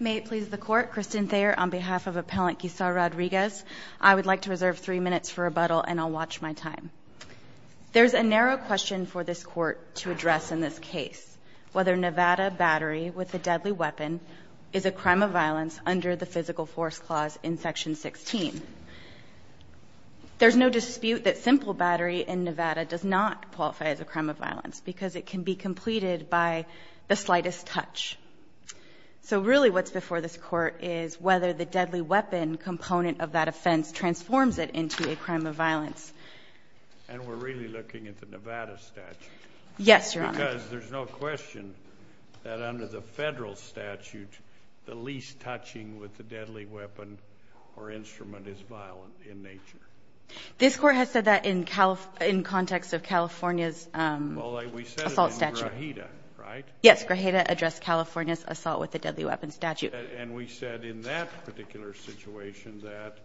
May it please the Court, Kristen Thayer on behalf of Appellant Guizar-Rodriguez, I would like to reserve three minutes for rebuttal and I'll watch my time. There's a narrow question for this Court to address in this case, whether Nevada battery with a deadly weapon is a crime of violence under the Physical Force Clause in Section 16. There's no dispute that simple battery in Nevada does not qualify as a crime of violence because it can be completed by the slightest touch. So really what's before this Court is whether the deadly weapon component of that offense transforms it into a crime of violence. And we're really looking at the Nevada statute. Yes, Your Honor. Because there's no question that under the Federal statute, the least touching with a deadly weapon or instrument is violent in nature. This Court has said that in context of California's assault statute. Well, we said it in Grajeda, right? Yes, Grajeda addressed California's assault with a deadly weapon statute. And we said in that particular situation that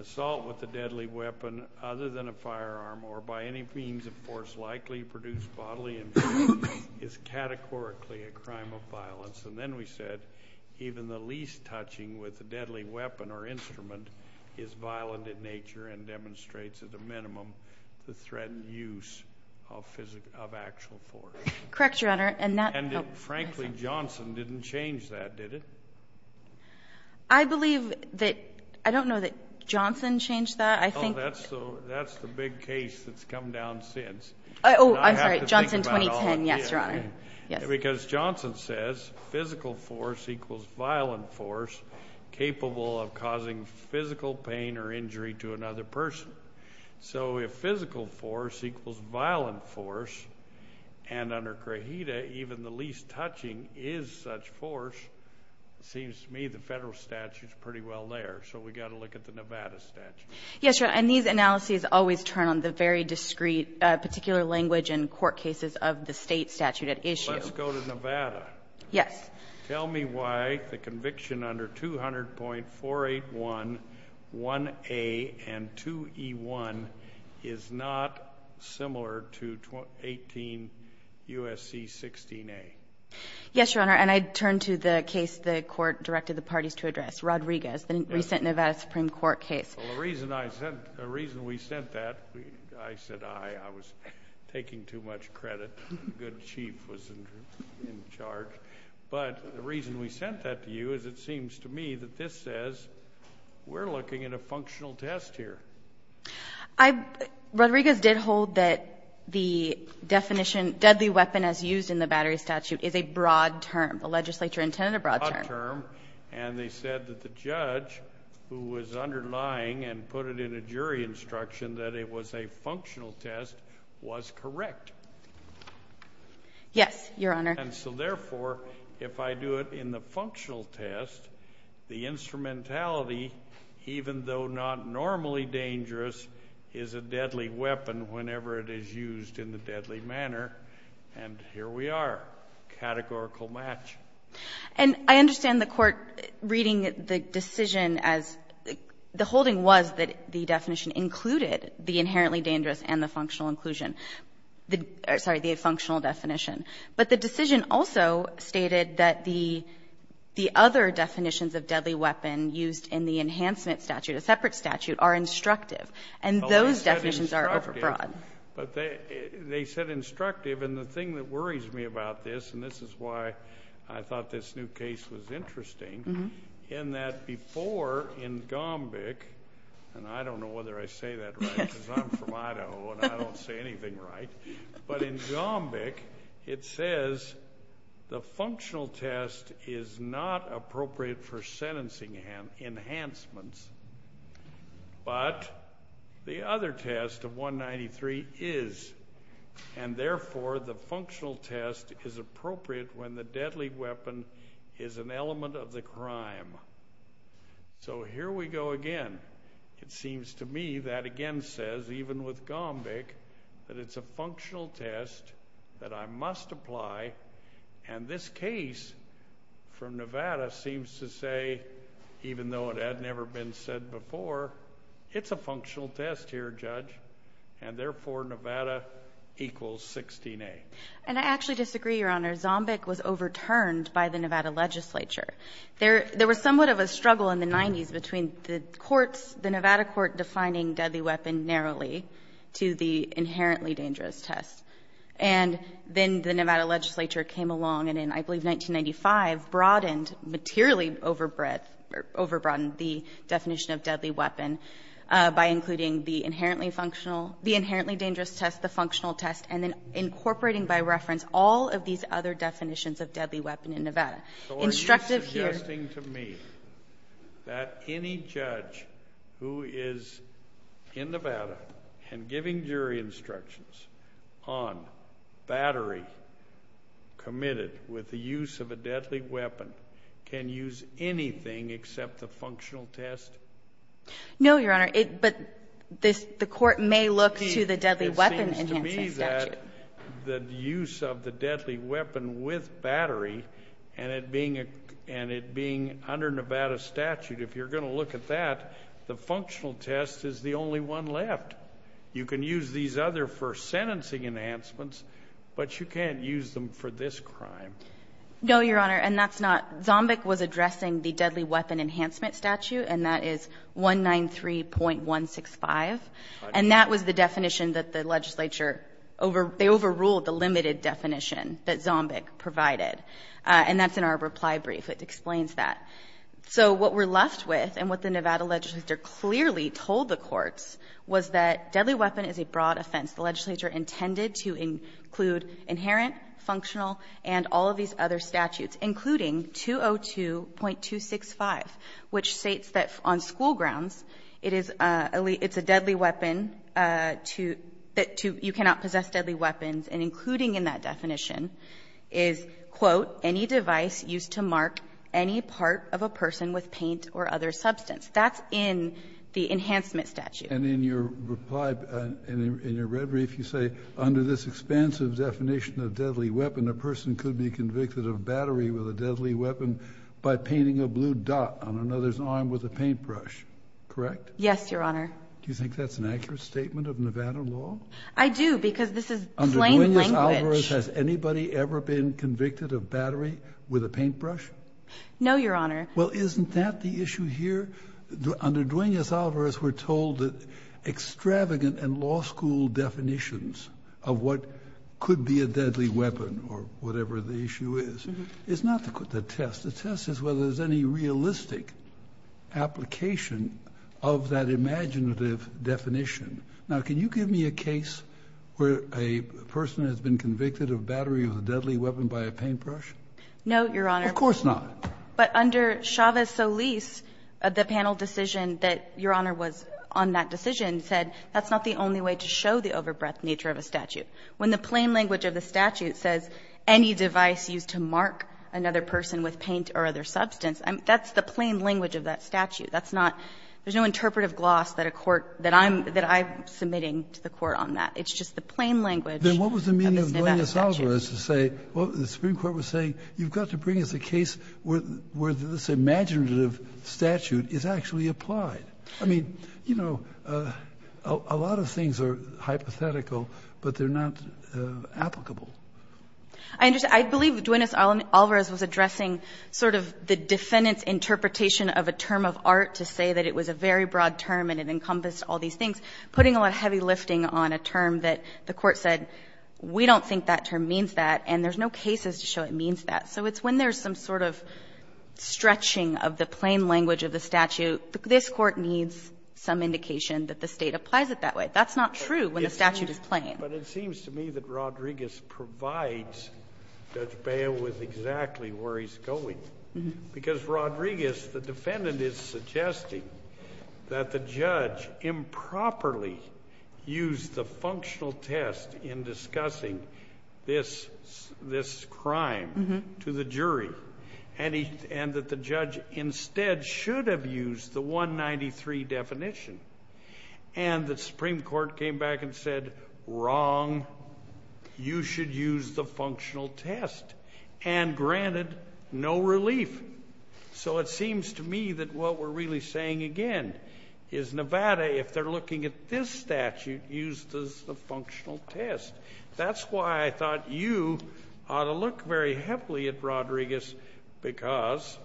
assault with a deadly weapon other than a firearm or by any means of force likely produced bodily injury is categorically a crime of violence. And then we said even the least touching with a deadly weapon or instrument is violent in nature and demonstrates at a minimum the threatened use of actual force. Correct, Your Honor. And frankly, Johnson didn't change that, did it? I believe that – I don't know that Johnson changed that. Oh, that's the big case that's come down since. Yes, Your Honor. Because Johnson says physical force equals violent force capable of causing physical pain or injury to another person. So if physical force equals violent force, and under Grajeda even the least touching is such force, it seems to me the Federal statute is pretty well there. So we've got to look at the Nevada statute. Yes, Your Honor. And these analyses always turn on the very discrete particular language and court cases of the State statute at issue. Let's go to Nevada. Yes. Tell me why the conviction under 200.481a and 2e1 is not similar to 18 U.S.C. 16a. Yes, Your Honor. And I turn to the case the Court directed the parties to address, Rodriguez, the recent Nevada Supreme Court case. Well, the reason I sent – the reason we sent that, I said aye. I was taking too much credit. The good chief was in charge. But the reason we sent that to you is it seems to me that this says we're looking at a functional test here. Rodriguez did hold that the definition deadly weapon as used in the Battery statute is a broad term. The legislature intended a broad term. And they said that the judge who was underlying and put it in a jury instruction that it was a functional test was correct. Yes, Your Honor. And so, therefore, if I do it in the functional test, the instrumentality, even though not normally dangerous, is a deadly weapon whenever it is used in the deadly manner. And here we are, categorical match. And I understand the Court reading the decision as the holding was that the definition included the inherently dangerous and the functional inclusion. Sorry, the functional definition. But the decision also stated that the other definitions of deadly weapon used in the enhancement statute, a separate statute, are instructive. And those definitions are overbroad. But they said instructive. And the thing that worries me about this, and this is why I thought this new case was interesting, in that before in Gombeck, and I don't know whether I say that right because I'm from Idaho and I don't say anything right, but in Gombeck it says the functional test is not appropriate for sentencing enhancements. But the other test of 193 is. And, therefore, the functional test is appropriate when the deadly weapon is an element of the crime. So here we go again. It seems to me that again says, even with Gombeck, that it's a functional test that I must apply. And this case from Nevada seems to say, even though it had never been said before, it's a functional test here, Judge. And, therefore, Nevada equals 16A. And I actually disagree, Your Honor. Gombeck was overturned by the Nevada legislature. There was somewhat of a struggle in the 90s between the courts, the Nevada court, defining deadly weapon narrowly to the inherently dangerous test. And then the Nevada legislature came along and in, I believe, 1995, broadened materially overbred or overbroadened the definition of deadly weapon by including the inherently functional the inherently dangerous test, the functional test, and then incorporating by reference all of these other definitions of deadly weapon in Nevada. Instructive here. It seems interesting to me that any judge who is in Nevada and giving jury instructions on battery committed with the use of a deadly weapon can use anything except the functional test? No, Your Honor. But the court may look to the deadly weapon in Hansen's statute. It seems to me that the use of the deadly weapon with battery and it being under Nevada statute, if you're going to look at that, the functional test is the only one left. You can use these other for sentencing enhancements, but you can't use them for this crime. No, Your Honor, and that's not. Gombeck was addressing the deadly weapon enhancement statute, and that is 193.165. And that was the definition that the legislature overruled, they overruled the limited definition that Gombeck provided. And that's in our reply brief. It explains that. So what we're left with and what the Nevada legislature clearly told the courts was that deadly weapon is a broad offense. The legislature intended to include inherent, functional, and all of these other which states that on school grounds, it is a deadly weapon to you cannot possess deadly weapons, and including in that definition is, quote, any device used to mark any part of a person with paint or other substance. That's in the enhancement statute. And in your reply, in your red brief, you say, under this expansive definition of deadly weapon, a person could be convicted of battery with a deadly weapon by painting a blue dot on another's arm with a paintbrush. Correct? Yes, Your Honor. Do you think that's an accurate statement of Nevada law? I do, because this is plain language. Under Duenas-Alvarez, has anybody ever been convicted of battery with a paintbrush? No, Your Honor. Well, isn't that the issue here? Under Duenas-Alvarez, we're told that extravagant and law school definitions of what could be a deadly weapon or whatever the issue is, is not the test. The test is whether there's any realistic application of that imaginative definition. Now, can you give me a case where a person has been convicted of battery with a deadly weapon by a paintbrush? No, Your Honor. Of course not. But under Chavez-Solis, the panel decision that Your Honor was on that decision said that's not the only way to show the overbreadth nature of a statute. When the plain language of the statute says any device used to mark another person with paint or other substance, that's the plain language of that statute. That's not – there's no interpretive gloss that a court – that I'm – that I'm submitting to the Court on that. It's just the plain language of the Nevada statute. Then what was the meaning of Duenas-Alvarez to say, well, the Supreme Court was saying you've got to bring us a case where this imaginative statute is actually applied? I mean, you know, a lot of things are hypothetical, but they're not applicable. I understand. I believe Duenas-Alvarez was addressing sort of the defendant's interpretation of a term of art to say that it was a very broad term and it encompassed all these things, putting a lot of heavy lifting on a term that the Court said we don't think that term means that, and there's no cases to show it means that. So it's when there's some sort of stretching of the plain language of the statute, this Court needs some indication that the State applies it that way. That's not true when the statute is plain. But it seems to me that Rodriguez provides Judge Bail with exactly where he's going. Because Rodriguez, the defendant, is suggesting that the judge improperly used the functional test in discussing this crime to the jury, and that the judge instead should have used the 193 definition. And the Supreme Court came back and said, wrong. You should use the functional test. And granted, no relief. So it seems to me that what we're really saying again is Nevada, if they're looking at this statute, used the functional test. That's why I thought you ought to look very heavily at Rodriguez because,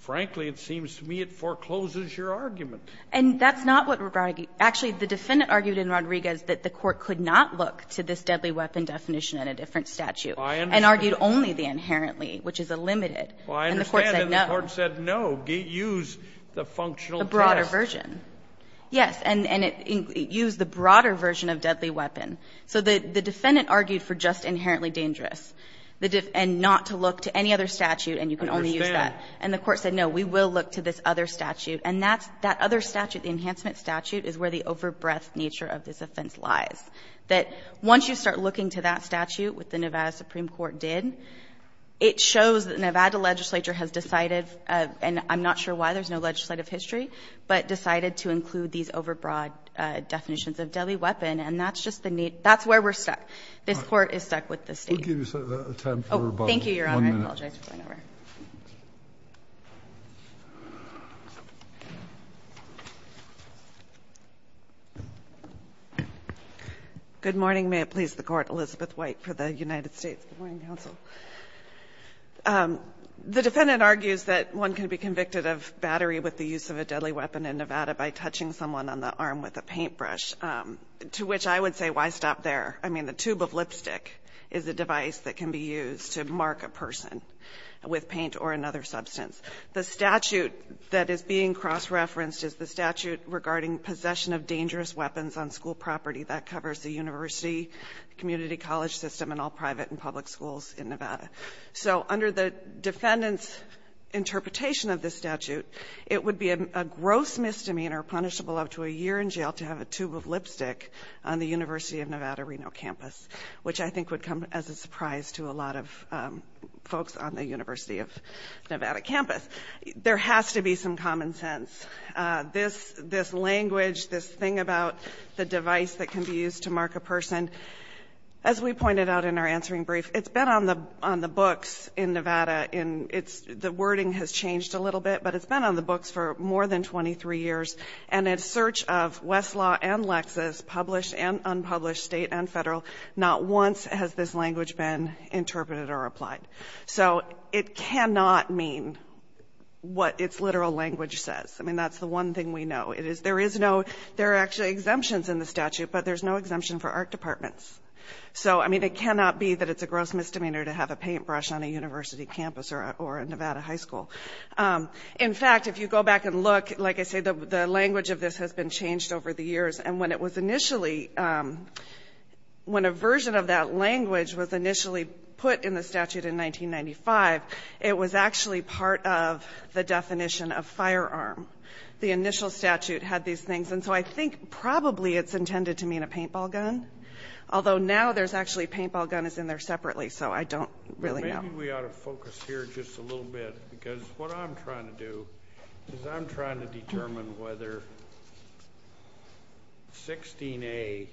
frankly, it seems to me it forecloses your argument. And that's not what we're arguing. Actually, the defendant argued in Rodriguez that the Court could not look to this deadly weapon definition in a different statute. And argued only the inherently, which is a limited. And the Court said no. And the Court said no, use the functional test. The broader version. Yes. And it used the broader version of deadly weapon. So the defendant argued for just inherently dangerous, and not to look to any other statute, and you can only use that. And the Court said, no, we will look to this other statute. And that other statute, the enhancement statute, is where the overbreadth nature of this offense lies. That once you start looking to that statute, which the Nevada Supreme Court did, it shows that Nevada legislature has decided, and I'm not sure why, there's no legislative history, but decided to include these overbroad definitions of deadly weapon. And that's just the need. That's where we're stuck. This Court is stuck with the State. Thank you, Your Honor. I apologize for going over. Good morning. May it please the Court. Elizabeth White for the United States Court and Counsel. The defendant argues that one can be convicted of battery with the use of a deadly weapon in Nevada by touching someone on the arm with a paintbrush, to which I would say, why stop there? I mean, the tube of lipstick is a device that can be used to mark a person with a paintbrush. It can be used to mark a person with paint or another substance. The statute that is being cross-referenced is the statute regarding possession of dangerous weapons on school property. That covers the university, community college system, and all private and public schools in Nevada. So under the defendant's interpretation of this statute, it would be a gross misdemeanor, punishable up to a year in jail, to have a tube of lipstick on the University of Nevada, Reno campus, which I think would come as a surprise to a lot of folks on the University of Nevada campus. There has to be some common sense. This language, this thing about the device that can be used to mark a person, as we pointed out in our answering brief, it's been on the books in Nevada. The wording has changed a little bit, but it's been on the books for more than 23 years. And in search of Westlaw and Lexis, published and unpublished, State and Federal, not once has this language been interpreted or applied. So it cannot mean what its literal language says. I mean, that's the one thing we know. It is — there is no — there are actually exemptions in the statute, but there's no exemption for art departments. So, I mean, it cannot be that it's a gross misdemeanor to have a paintbrush on a university campus or a Nevada high school. In fact, if you go back and look, like I said, the language of this has been changed over the years. And when it was initially — when a version of that language was initially put in the statute in 1995, it was actually part of the definition of firearm. The initial statute had these things. And so I think probably it's intended to mean a paintball gun, although now there's actually paintball guns in there separately. So I don't really know. Maybe we ought to focus here just a little bit, because what I'm trying to do is I'm trying to determine whether 16A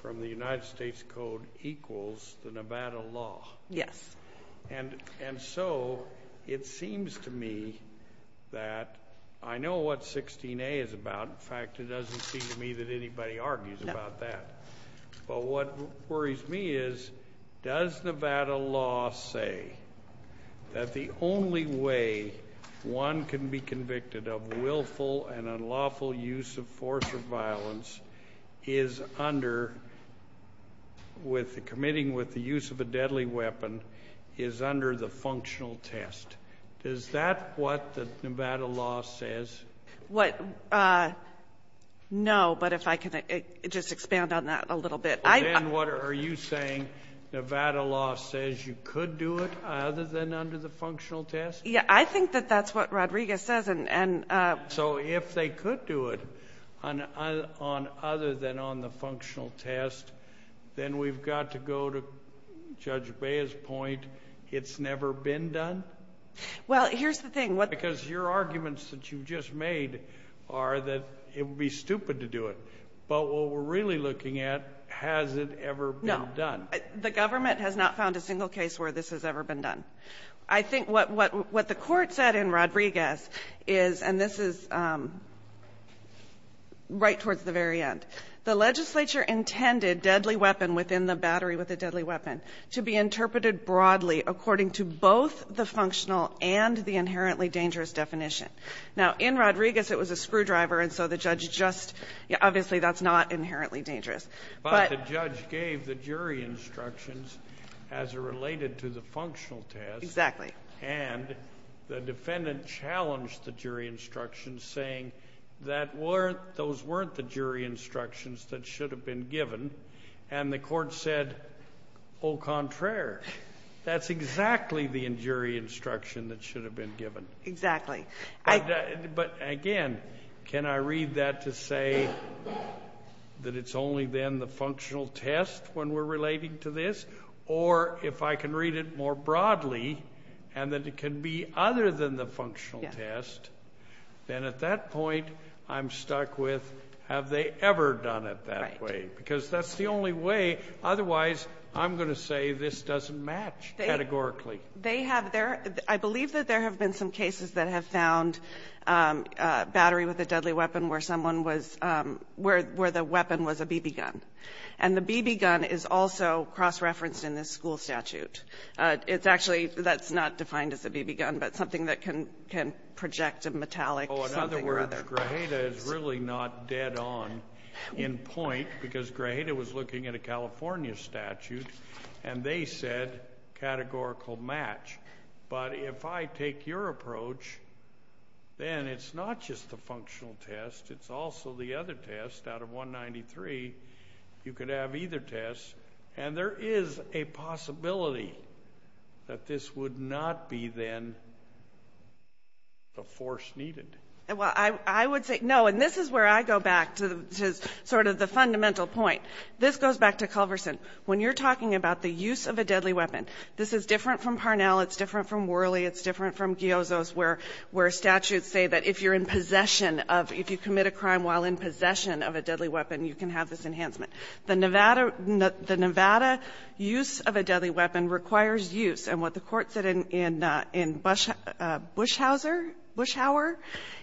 from the United States Code equals the Nevada law. Yes. And so it seems to me that I know what 16A is about. In fact, it doesn't seem to me that anybody argues about that. But what worries me is, does Nevada law say that the only way one can be convicted of willful and unlawful use of force or violence is under — committing with the use of a deadly weapon is under the functional test? Is that what the Nevada law says? What — no, but if I can just expand on that a little bit. Well, then what are you saying? Nevada law says you could do it other than under the functional test? Yeah, I think that that's what Rodriguez says. And — So if they could do it on — other than on the functional test, then we've got to go to Judge Bea's point, it's never been done? Well, here's the thing. Because your arguments that you've just made are that it would be stupid to do it. But what we're really looking at, has it ever been done? No. The government has not found a single case where this has ever been done. I think what the Court said in Rodriguez is — and this is right towards the very end — the legislature intended deadly weapon within the battery with a deadly weapon to be interpreted broadly according to both the functional and the inherently dangerous definition. Now, in Rodriguez, it was a screwdriver, and so the judge just — obviously, that's not inherently dangerous. But — But the judge gave the jury instructions as it related to the functional test. Exactly. And the defendant challenged the jury instructions, saying that weren't — those weren't the jury instructions that should have been given. And the Court said, au contraire, that's exactly the jury instruction that should have been given. Exactly. But, again, can I read that to say that it's only then the functional test when we're relating to this? Or, if I can read it more broadly, and that it can be other than the functional test, then at that point, I'm stuck with, have they ever done it that way? Because that's the only way. Otherwise, I'm going to say this doesn't match categorically. They have. There — I believe that there have been some cases that have found battery with a deadly weapon where someone was — where the weapon was a BB gun. And the BB gun is also cross-referenced in this school statute. It's actually — that's not defined as a BB gun, but something that can project a metallic something or other. Oh, in other words, Grajeda is really not dead on in point, because Grajeda was looking at a California statute, and they said categorical match. But if I take your approach, then it's not just the functional test. It's also the other test out of 193. You could have either test. And there is a possibility that this would not be, then, the force needed. Well, I would say — no, and this is where I go back to sort of the fundamental point. This goes back to Culverson. When you're talking about the use of a deadly weapon, this is different from Parnell. It's different from Worley. It's different from Giozzo's, where — where statutes say that if you're in possession of — if you commit a crime while in possession of a deadly weapon, you can have this enhancement. The Nevada — the Nevada use of a deadly weapon requires use. And what the Court said in — in Bush — Bushhouser — Bushhour,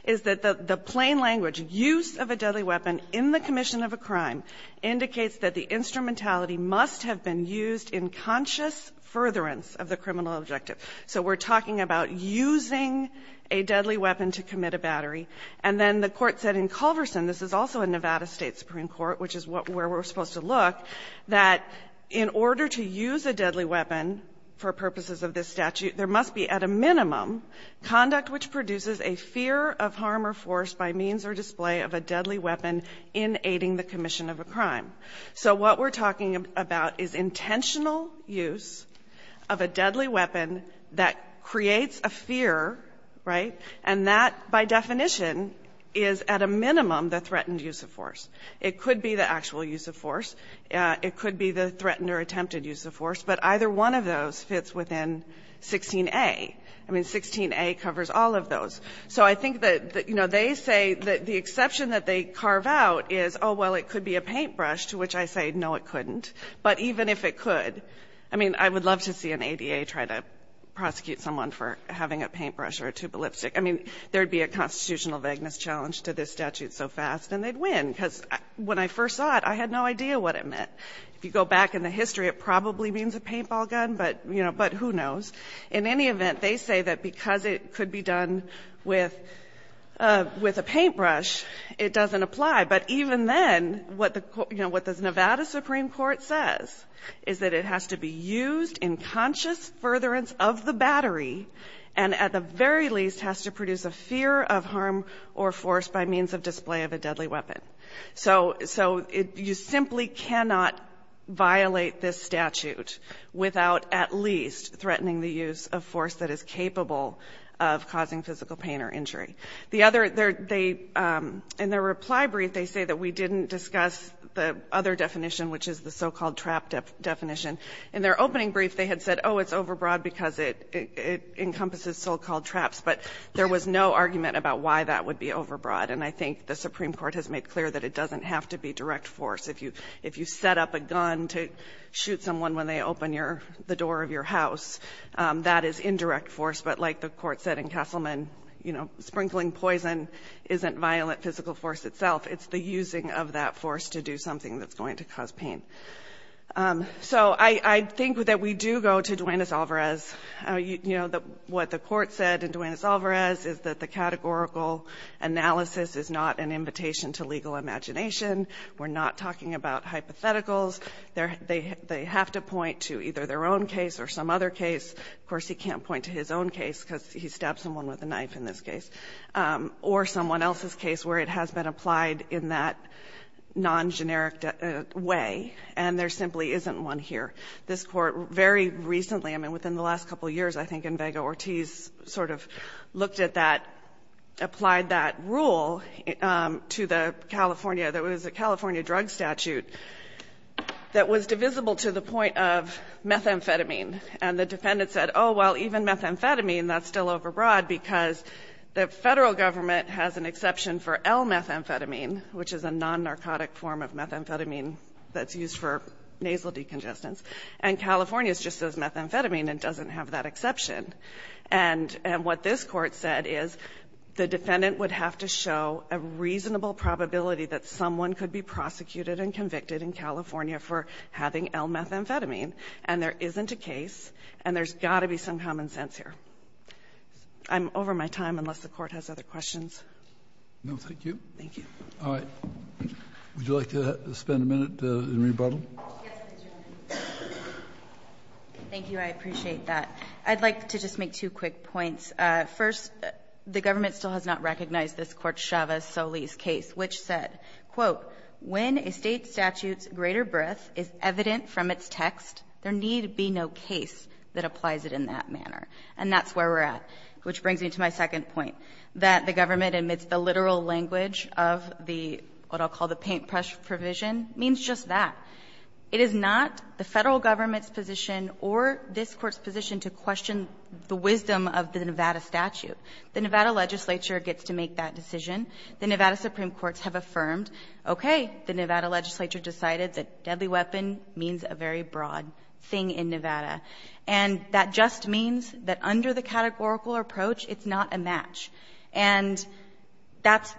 is that the plain language, use of a deadly weapon in the commission of a crime indicates that the instrumentality must have been used in conscious furtherance of the criminal objective. So we're talking about using a deadly weapon to commit a battery. And then the Court said in Culverson — this is also a Nevada State Supreme Court, which is what — where we're supposed to look — that in order to use a deadly weapon for purposes of this statute, there must be at a minimum conduct which produces a fear of harm or force by means or display of a deadly weapon in aiding the commission of a crime. So what we're talking about is intentional use of a deadly weapon that creates a fear, right? And that, by definition, is at a minimum the threatened use of force. It could be the actual use of force. It could be the threatened or attempted use of force. But either one of those fits within 16a. I mean, 16a covers all of those. So I think that, you know, they say that the exception that they carve out is, oh, well, it could be a paintbrush, to which I say, no, it couldn't. But even if it could, I mean, I would love to see an ADA try to prosecute someone for having a paintbrush or a tube of lipstick. I mean, there would be a constitutional vagueness challenge to this statute so fast, and they'd win, because when I first saw it, I had no idea what it meant. If you go back in the history, it probably means a paintball gun, but, you know, but who knows. In any event, they say that because it could be done with a paintbrush, it doesn't apply. But even then, what the Nevada Supreme Court says is that it has to be used in conscious furtherance of the battery, and at the very least has to produce a fear of harm or force by means of display of a deadly weapon. So you simply cannot violate this statute without at least threatening the use of force that is capable of causing physical pain or injury. The other, they — in their reply brief, they say that we didn't discuss the other definition, which is the so-called trap definition. In their opening brief, they had said, oh, it's overbroad because it encompasses so-called traps, but there was no argument about why that would be overbroad. And I think the Supreme Court has made clear that it doesn't have to be direct force. If you set up a gun to shoot someone when they open the door of your house, that is indirect force. But like the Court said in Castleman, you know, sprinkling poison isn't violent physical force itself. It's the using of that force to do something that's going to cause pain. So I think that we do go to Duanez-Alvarez. You know, what the Court said in Duanez-Alvarez is that the categorical analysis is not an invitation to legal imagination. We're not talking about hypotheticals. They have to point to either their own case or some other case. Of course, he can't point to his own case because he stabbed someone with a knife in this case, or someone else's case where it has been applied in that non-generic way, and there simply isn't one here. This Court very recently, I mean, within the last couple of years, I think, and Vega-Ortiz sort of looked at that, applied that rule to the California, that was a California drug statute that was divisible to the point of methamphetamine. And the defendant said, oh, well, even methamphetamine, that's still overbroad because the Federal government has an exception for L-methamphetamine, which is a non-narcotic form of methamphetamine that's used for nasal decongestant. And California is just as methamphetamine and doesn't have that exception. And what this Court said is the defendant would have to show a reasonable probability that someone could be prosecuted and convicted in California for having L-methamphetamine, and there isn't a case, and there's got to be some common sense here. I'm over my time, unless the Court has other questions. Kennedy, thank you. All right. Would you like to spend a minute in rebuttal? Yes, Ms. Jolin. Thank you. I appreciate that. I'd like to just make two quick points. First, the government still has not recognized this Court's Chavez-Solis case, which said, quote, when a State statute's greater breadth is evident from its text, there need be no case that applies it in that manner. And that's where we're at, which brings me to my second point, that the government, amidst the literal language of the, what I'll call the paintbrush provision, means just that. It is not the Federal government's position or this Court's position to question the wisdom of the Nevada statute. The Nevada legislature gets to make that decision. The Nevada supreme courts have affirmed, okay, the Nevada legislature decided that deadly weapon means a very broad thing in Nevada. And that just means that under the categorical approach, it's not a match. And that's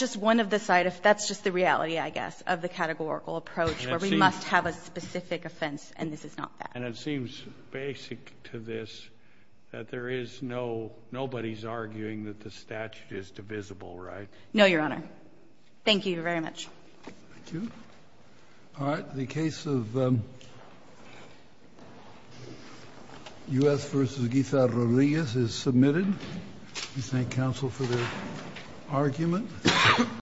just one of the side of the reality, I guess, of the categorical approach where we must have a specific offense, and this is not that. And it seems basic to this that there is no, nobody's arguing that the statute is divisible, right? No, Your Honor. Thank you very much. Thank you. All right. The case of U.S. v. Guisarrodillas is submitted. We thank counsel for their argument.